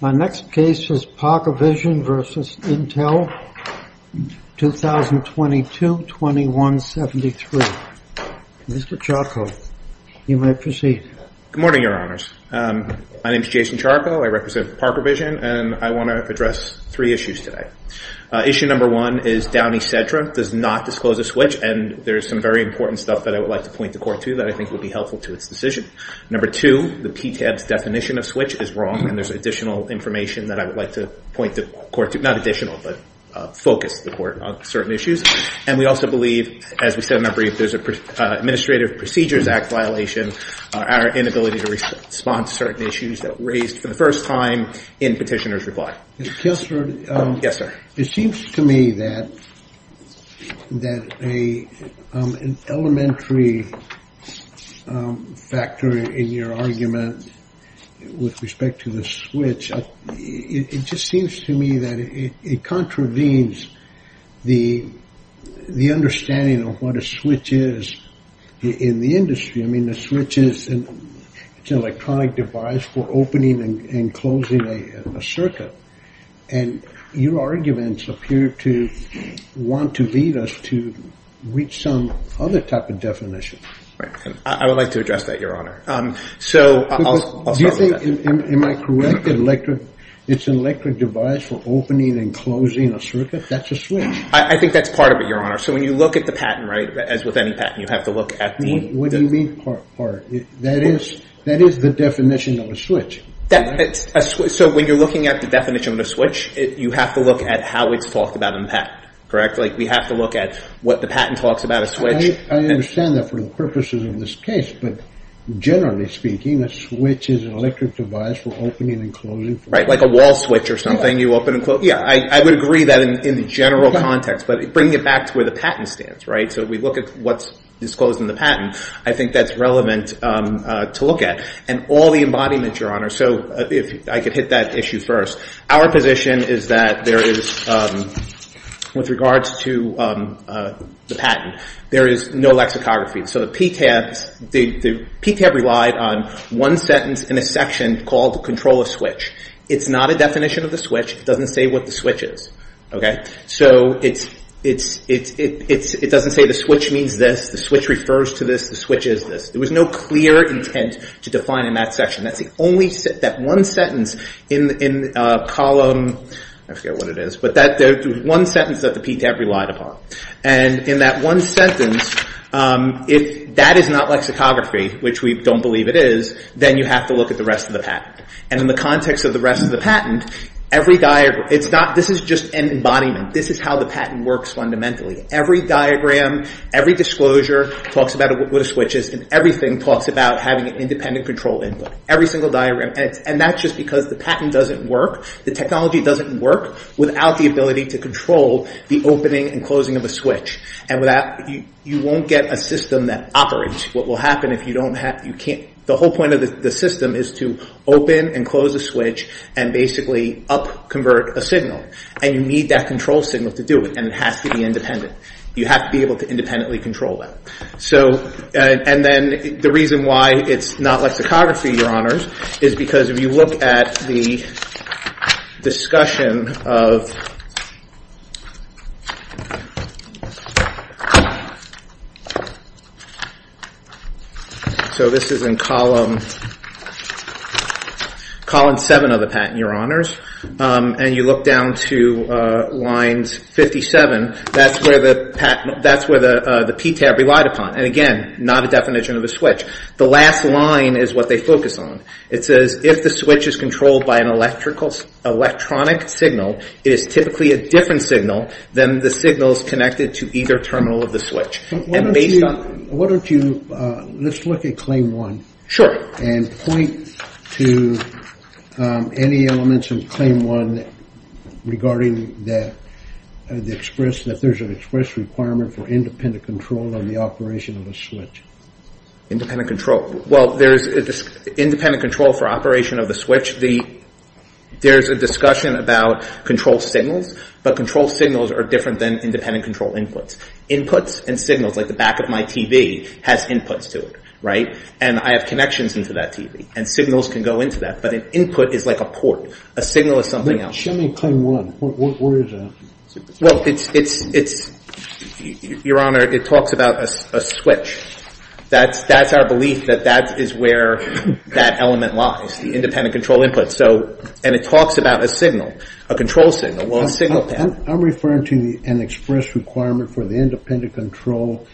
My next case is ParkerVision v. Intel, 2022-2173. Mr. Charco, you may proceed. Good morning, Your Honors. My name is Jason Charco. I represent ParkerVision and I want to address three issues today. Issue number one is Downey Sedra does not disclose a switch and there is some very important stuff that I would like to point the court to that I think would be helpful to its decision. Number two, the PTAB's definition of switch is wrong and there's additional information that I would like to point the court to, not additional, but focus the court on certain issues. And we also believe, as we said in our brief, there's an Administrative Procedures Act violation, our inability to respond to certain issues that were raised for the first time in petitioner's reply. Mr. Kessler, it seems to me that an elementary factor in your argument with respect to the switch, it just seems to me that it contravenes the understanding of what a switch is in the industry. I mean, the switch is an electronic device for opening and closing a circuit. And your arguments appear to want to lead us to reach some other type of definition. I would like to address that, Your Honor. Do you think, am I correct, it's an electric device for opening and closing a circuit? That's a switch. I think that's part of it, Your Honor. So when you look at the patent, right, as with any patent, you have to look at the... What do you mean part? That is the definition of a switch. So when you're looking at the definition of a switch, you have to look at how it's talked about in the patent. Correct? Like we have to look at what the patent talks about a switch... I understand that for the purposes of this case, but generally speaking, a switch is an electric device for opening and closing... Right, like a wall switch or something you open and close. Yeah, I would agree that in the general context, but bringing it back to where the patent stands, right? So we look at what's disclosed in the patent, I think that's relevant to look at and all the embodiment, Your Honor. So if I could hit that issue first, our position is that there is, with regards to the patent, there is no lexicography. So the PTAB relied on one sentence in a section called the control of switch. It's not a definition of the switch. It doesn't say what the switch is, okay? So it doesn't say the switch means this, the switch refers to this, the switch is this. There was no clear intent to define in that section. That's the only sentence, that one sentence in column... I forget what it is, but that one sentence that the PTAB relied upon. And in that one sentence, if that is not lexicography, which we don't believe it is, then you have to look at the rest of the patent. And in the context of the rest of the patent, this is just an embodiment. This is how the patent works fundamentally. Every diagram, every disclosure talks about what a switch is, and everything talks about having an independent control input. Every single diagram. And that's just because the patent doesn't work, the technology doesn't work without the ability to control the opening and closing of a switch. And you won't get a system that operates. What will happen if you don't have... The whole point of the system is to open and close a switch and basically up-convert a signal. And you need that control signal to do it, and it has to be independent. You have to be able to independently control that. So, and then the reason why it's not lexicography, Your Honors, is because if you look at the discussion of... So this is in column... Column 7 of the patent, Your Honors. And you look down to lines 57, that's where the PTAB relied upon. And again, not a definition of a switch. The last line is what they focus on. It says, if the switch is controlled by an electronic signal, it is typically a different signal than the signals connected to either terminal of the switch. And based on... Why don't you... Let's look at claim 1. Sure. And point to any elements of claim 1 regarding that the express... That there's an express requirement for independent control on the operation of a switch. Independent control. Well, there's independent control for operation of the switch. There's a discussion about control signals, but control signals are different than independent control inputs. Inputs and signals, like the back of my TV, has inputs to it, right? And I have connections into that TV, and signals can go into that. But an input is like a port. A signal is something else. Show me claim 1. Where is that? Well, it's... Your Honor, it talks about a switch. That's our belief that that is where that element lies, the independent control input. So... And it talks about a signal, a control signal. Well, a signal can... I'm referring to an express requirement for the independent control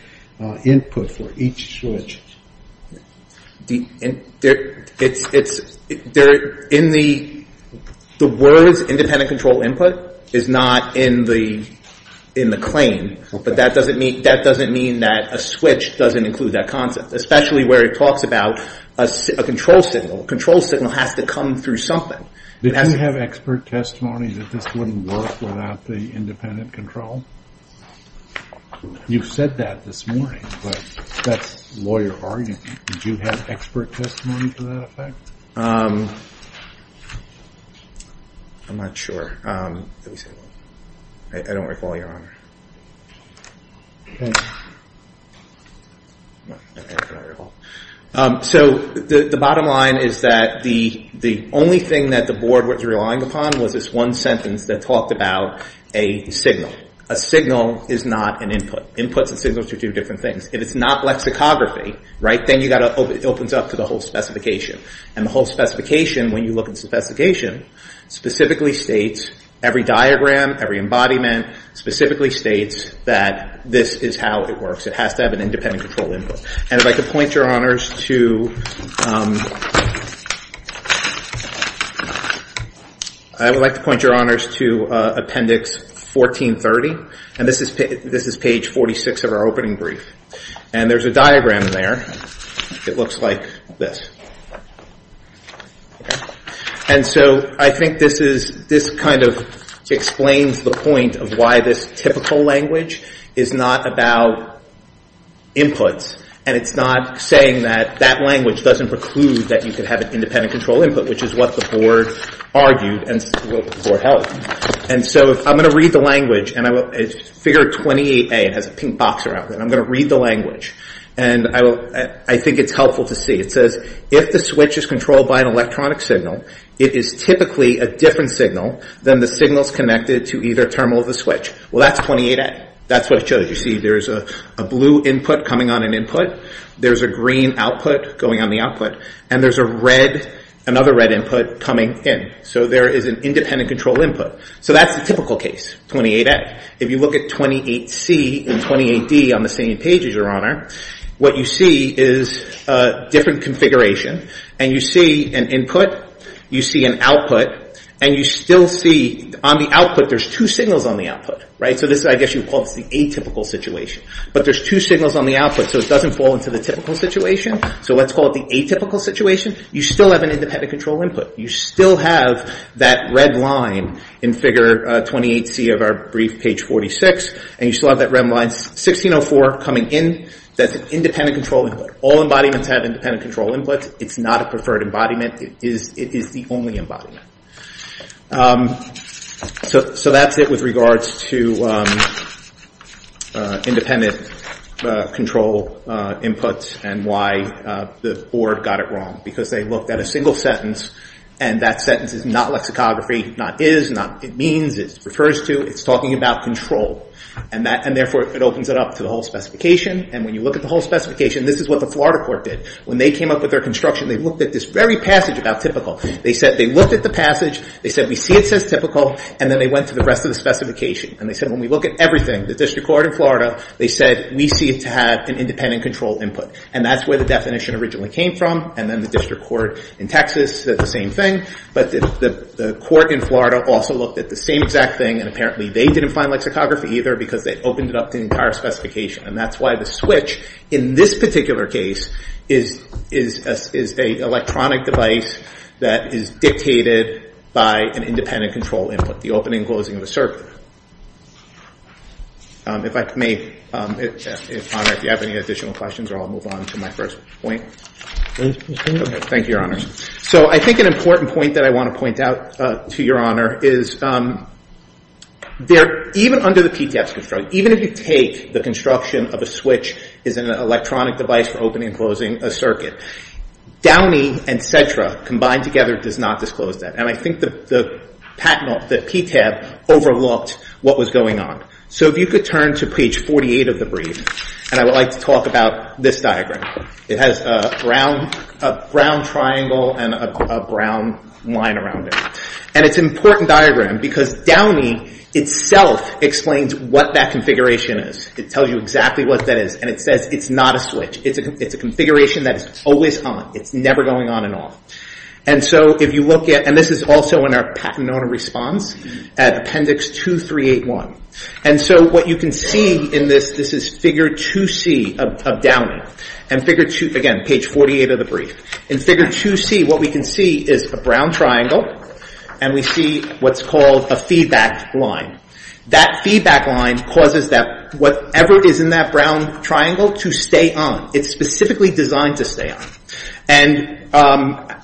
input for each switch. The... It's... They're in the... The words independent control input is not in the claim, but that doesn't mean that a switch doesn't include that concept, especially where it talks about a control signal. A control signal has to come through something. Did you have expert testimony that this wouldn't work without the independent control? You've said that this morning, but that's lawyer argument. Did you have expert testimony to that effect? Um... I'm not sure. I don't recall, Your Honor. Hmm. No, I don't recall. So the bottom line is that the only thing that the board was relying upon was this one sentence that talked about a signal. A signal is not an input. Inputs and signals are two different things. If it's not lexicography, right, then it opens up to the whole specification. And the whole specification, when you look at the specification, specifically states... Every diagram, every embodiment specifically states that this is how it works. It has to have an independent control input. And if I could point, Your Honors, to... I would like to point, Your Honors, to Appendix 1430. And this is page 46 of our opening brief. And there's a diagram there. It looks like this. And so I think this is... This kind of explains the point of why this typical language is not about inputs. And it's not saying that that language doesn't preclude that you could have an independent control input, which is what the board argued and the board held. And so I'm going to read the language. And it's Figure 28A. It has a pink box around it. And I'm going to read the language. And I think it's helpful to see. It says, if the switch is controlled by an electronic signal, it is typically a different signal than the signals connected to either terminal of the switch. Well, that's 28A. That's what it shows. You see there's a blue input coming on an input. There's a green output going on the output. And there's another red input coming in. So there is an independent control input. So that's the typical case, 28A. If you look at 28C and 28D on the same page, Your Honor, what you see is a different configuration. And you see an input. You see an output. And you still see, on the output, there's two signals on the output, right? So I guess you would call this the atypical situation. But there's two signals on the output. So it doesn't fall into the typical situation. So let's call it the atypical situation. You still have an independent control input. You still have that red line in Figure 28C of our brief, page 46. And you still have that red line, 1604, coming in. That's an independent control input. All embodiments have independent control inputs. It's not a preferred embodiment. It is the only embodiment. So that's it with regards to independent control inputs and why the board got it wrong. Because they looked at a single sentence. And that sentence is not lexicography, not is, not it means, it refers to. It's talking about control. And therefore, it opens it up to the whole specification. And when you look at the whole specification, this is what the Florida court did. When they came up with their construction, they looked at this very passage about typical. They said they looked at the passage. They said, we see it says typical. And then they went to the rest of the specification. And they said, when we look at everything, the district court in Florida, they said, we see it to have an independent control input. And that's where the definition originally came from. And then the district court in Texas said the same thing. But the court in Florida also looked at the same exact thing. And apparently, they didn't find lexicography either, because they opened it up to the entire specification. And that's why the switch, in this particular case, is an electronic device that is dictated by an independent control input, the opening and closing of a circuit. If I may, if, Honor, if you have any additional questions, or I'll move on to my first point. Thank you, Your Honors. So I think an important point that I want to point out to Your Honor is, even under the PTAB's control, even if you take the construction of a switch as an electronic device for opening and closing a circuit, Downey and Cedra combined together does not disclose that. And I think the PTAB overlooked what was going on. So if you could turn to page 48 of the brief, and I would like to talk about this diagram. It has a brown triangle and a brown line around it. And it's an important diagram, because Downey itself explains what that configuration is. It tells you exactly what that is. And it says it's not a switch. It's a configuration that is always on. It's never going on and off. And so if you look at, and this is also in our patent owner response, at appendix 2381. And so what you can see in this, this is figure 2C of Downey. And figure 2, again, page 48 of the brief. In figure 2C, what we can see is a brown triangle. And we see what's called a feedback line. That feedback line causes that whatever is in that brown triangle to stay on. It's specifically designed to stay on. And our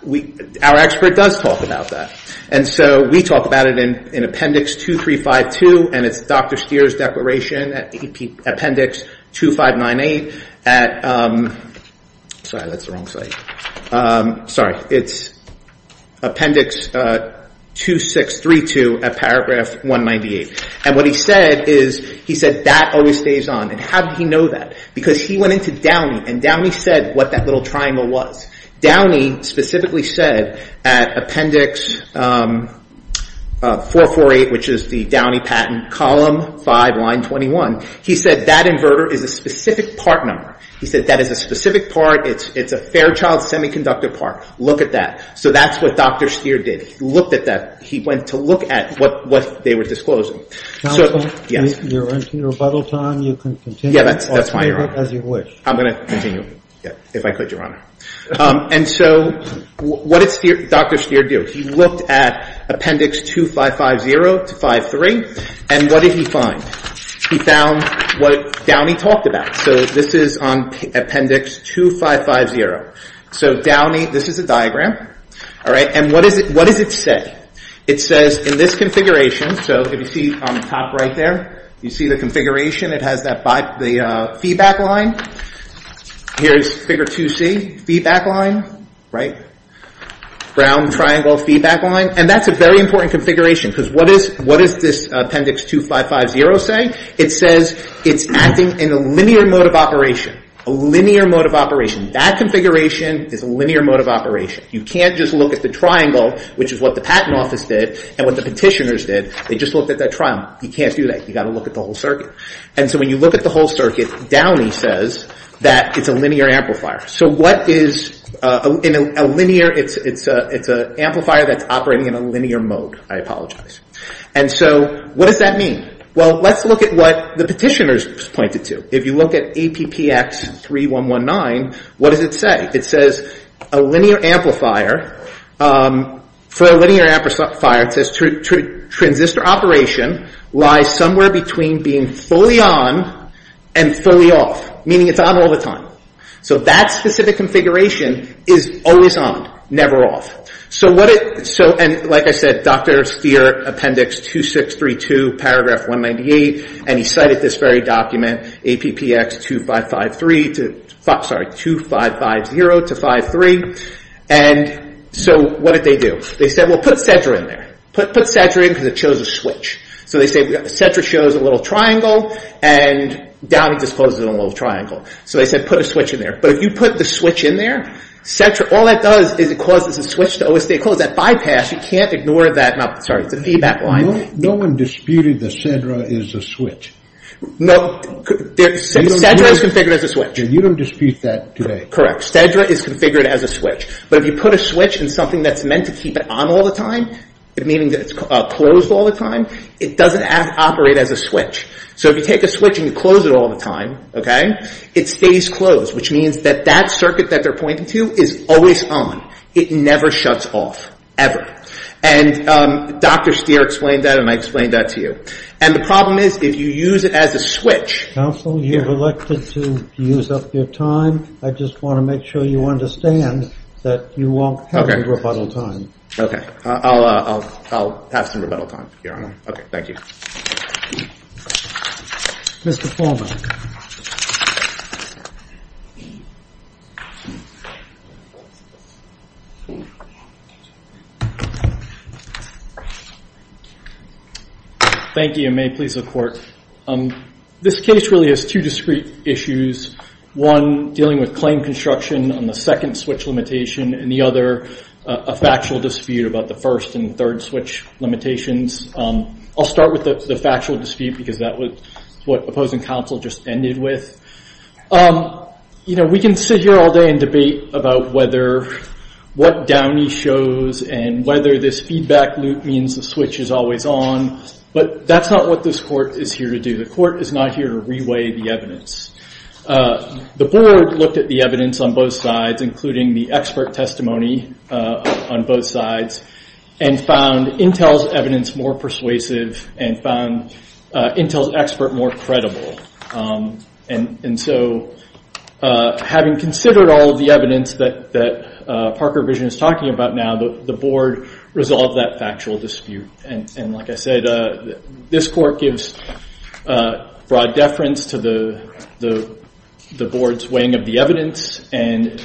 expert does talk about that. And so we talk about it in appendix 2352. And it's Dr. Stier's declaration at appendix 2598 at, sorry, that's the wrong site. Sorry, it's appendix 2632 at paragraph 198. And what he said is, he said that always stays on. And how did he know that? Because he went into Downey, and Downey said what that little triangle was. Downey specifically said at appendix 448, which is the Downey patent, column 5, line 21, he said that inverter is a specific part number. He said that is a specific part. It's a Fairchild semiconductor part. Look at that. So that's what Dr. Stier did. He looked at that. He went to look at what they were disclosing. Counsel, you're into your rebuttal time. You can continue. Yeah, that's fine, Your Honor. I'll take it as you wish. I'm going to continue, if I could, Your Honor. And so what did Dr. Stier do? He looked at appendix 2550 to 53. And what did he find? He found what Downey talked about. So this is on appendix 2550. So Downey, this is a diagram. And what does it say? It says, in this configuration, so if you see on the top right there, you see the configuration. It has the feedback line. Here's figure 2C, feedback line, right? Brown triangle feedback line. And that's a very important configuration, because what does this appendix 2550 say? It says it's acting in a linear mode of operation, a linear mode of operation. That configuration is a linear mode of operation. You can't just look at the triangle, which is what the Patent Office did and what the petitioners did. They just looked at that triangle. You can't do that. You've got to look at the whole circuit. And so when you look at the whole circuit, Downey says that it's a linear amplifier. So what is a linear? It's an amplifier that's operating in a linear mode. I apologize. And so what does that mean? Well, let's look at what the petitioners pointed to. If you look at APPX3119, what does it say? It says a linear amplifier. For a linear amplifier, it says transistor operation lies somewhere between being fully on and fully off, meaning it's on all the time. So that specific configuration is always on, never off. And like I said, Dr. Steer, Appendix 2632, Paragraph 198. And he cited this very document, APPX2550-53. And so what did they do? They said, well, put SETRA in there. Put SETRA in because it shows a switch. So they say SETRA shows a little triangle. And Downey discloses a little triangle. So they said, put a switch in there. But if you put the switch in there, all that does is it causes a switch to always stay closed. That bypass, you can't ignore that. Sorry, it's a feedback line. No one disputed that SETRA is a switch. No, SETRA is configured as a switch. You don't dispute that today. Correct, SETRA is configured as a switch. But if you put a switch in something that's meant to keep it on all the time, meaning that it's closed all the time, it doesn't operate as a switch. So if you take a switch and you close it all the time, it stays closed, which means that that circuit that they're always on, it never shuts off, ever. And Dr. Steer explained that, and I explained that to you. And the problem is, if you use it as a switch. Counsel, you've elected to use up your time. I just want to make sure you understand that you won't have any rebuttal time. OK, I'll have some rebuttal time, Your Honor. OK, thank you. Mr. Foreman. Thank you. Thank you, and may it please the Court. This case really has two discrete issues. One, dealing with claim construction on the second switch limitation. And the other, a factual dispute about the first and third switch limitations. I'll start with the factual dispute, because that was what opposing counsel just ended with. You know, we can sit here all day and debate about what Downey shows and whether this feedback loop means the switch is always on. But that's not what this court is here to do. The court is not here to reweigh the evidence. The board looked at the evidence on both sides, including the expert testimony on both sides, and found Intel's evidence more persuasive and found Intel's expert more credible. And so, having considered all of the evidence that Parker Vision is talking about now, the board resolved that factual dispute. And like I said, this court gives broad deference to the board's weighing of the evidence. And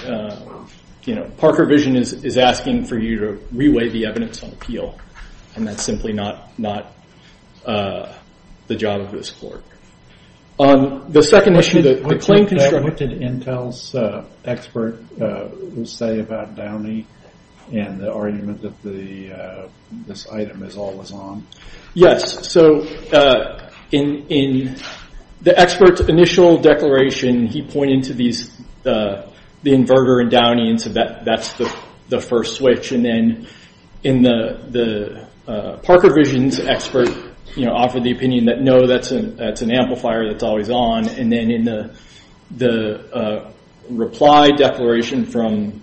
Parker Vision is asking for you to reweigh the evidence on appeal. And that's simply not the job of this court. On the second issue, the claim constructed Intel's expert say about Downey and the argument that this item is always on. Yes, so in the expert's initial declaration, he pointed to the inverter in Downey and said that's the first switch. And then in the Parker Vision's expert offered the opinion that no, that's an amplifier that's always on. And then in the reply declaration from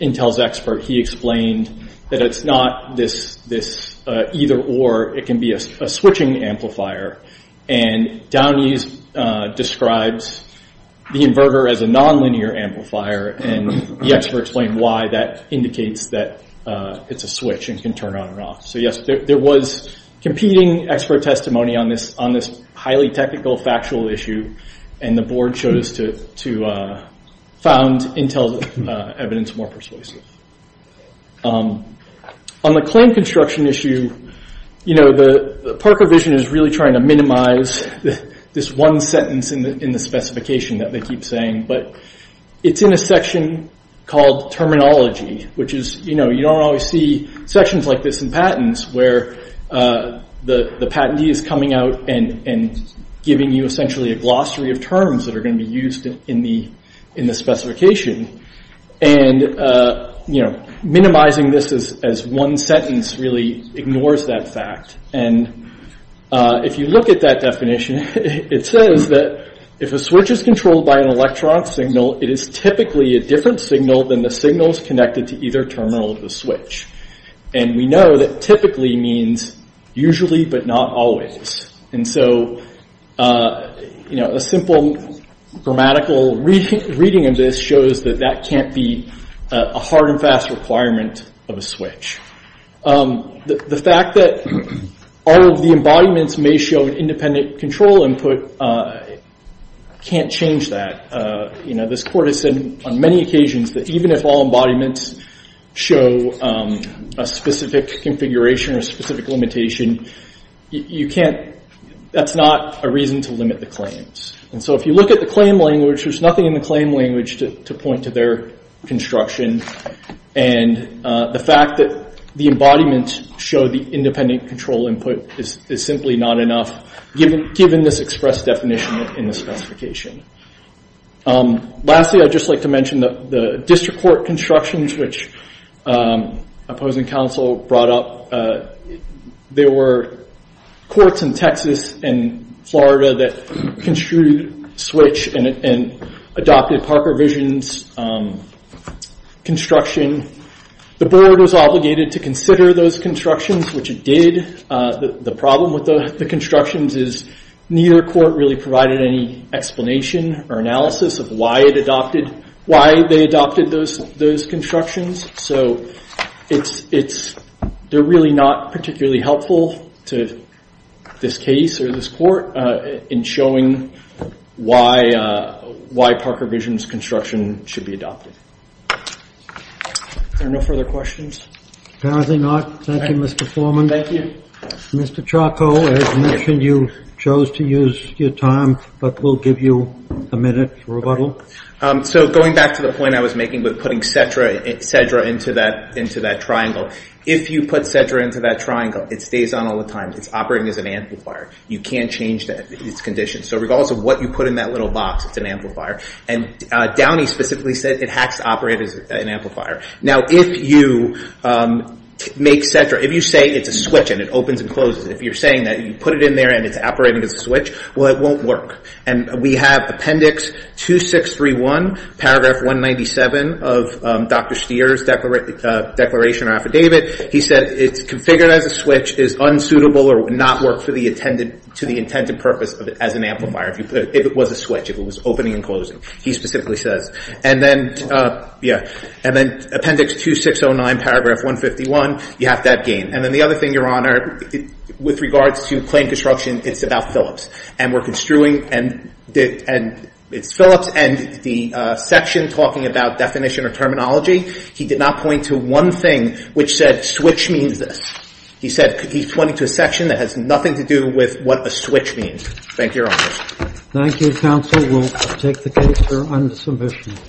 Intel's expert, he explained that it's not this either or. It can be a switching amplifier. And Downey describes the inverter as a nonlinear amplifier. And the expert explained why that indicates that it's a switch and can turn on and off. So yes, there was competing expert testimony on this highly technical factual issue. And the board chose to found Intel's evidence more persuasive. On the claim construction issue, Parker Vision is really trying to minimize this one sentence in the specification that they keep saying. But it's in a section called terminology, which is you don't always see sections like this in patents where the patentee is coming out and giving you essentially a glossary of terms that are going to be used in the specification. And minimizing this as one sentence really ignores that fact. And if you look at that definition, it says that if a switch is controlled by an electronic signal, it is typically a different signal than the signals connected to either terminal of the switch. And we know that typically means usually, but not always. And so a simple grammatical reading of this shows that that can't be a hard and fast requirement of a switch. The fact that all of the embodiments may show an independent control input can't change that. This court has said on many occasions that even if all embodiments show a specific configuration or a specific limitation, that's not a reason to limit the claims. And so if you look at the claim language, there's nothing in the claim language to point to their construction. And the fact that the embodiments show the independent control input is simply not enough, given this expressed definition in the specification. Lastly, I'd just like to mention the district court constructions, which opposing counsel brought up. There were courts in Texas and Florida that construed switch and adopted Parker Vision's construction. The board was obligated to consider those constructions, which it did. The problem with the constructions is neither court really provided any explanation or analysis of why they adopted those constructions. So they're really not particularly helpful to this case or this court in showing why Parker Vision's construction should be adopted. Are there no further questions? Apparently not. Thank you, Mr. Foreman. Thank you. Mr. Charco, as mentioned, you chose to use your time. But we'll give you a minute for rebuttal. So going back to the point I was making with putting Cedra into that triangle, if you put Cedra into that triangle, it stays on all the time. It's operating as an amplifier. You can't change its condition. So regardless of what you put in that little box, it's an amplifier. And Downey specifically said it has to operate as an amplifier. Now, if you make Cedra, if you say it's a switch and it opens and closes, if you're saying that you put it in there and it's operating as a switch, well, it won't work. And we have appendix 2631, paragraph 197 of Dr. Stier's declaration or affidavit. He said it's configured as a switch, is unsuitable or would not work to the intended purpose as an amplifier if it was a switch, if it was opening and closing, he specifically says. And then appendix 2609, paragraph 151, you have to have gain. And then the other thing, Your Honor, with regards to plain construction, it's about Phillips. And we're construing, and it's Phillips. And the section talking about definition or terminology, he did not point to one thing which said switch means this. He said he's pointing to a section that has nothing to do with what a switch means. Thank you, Your Honor. Thank you, counsel. We'll take the case for unsubmission.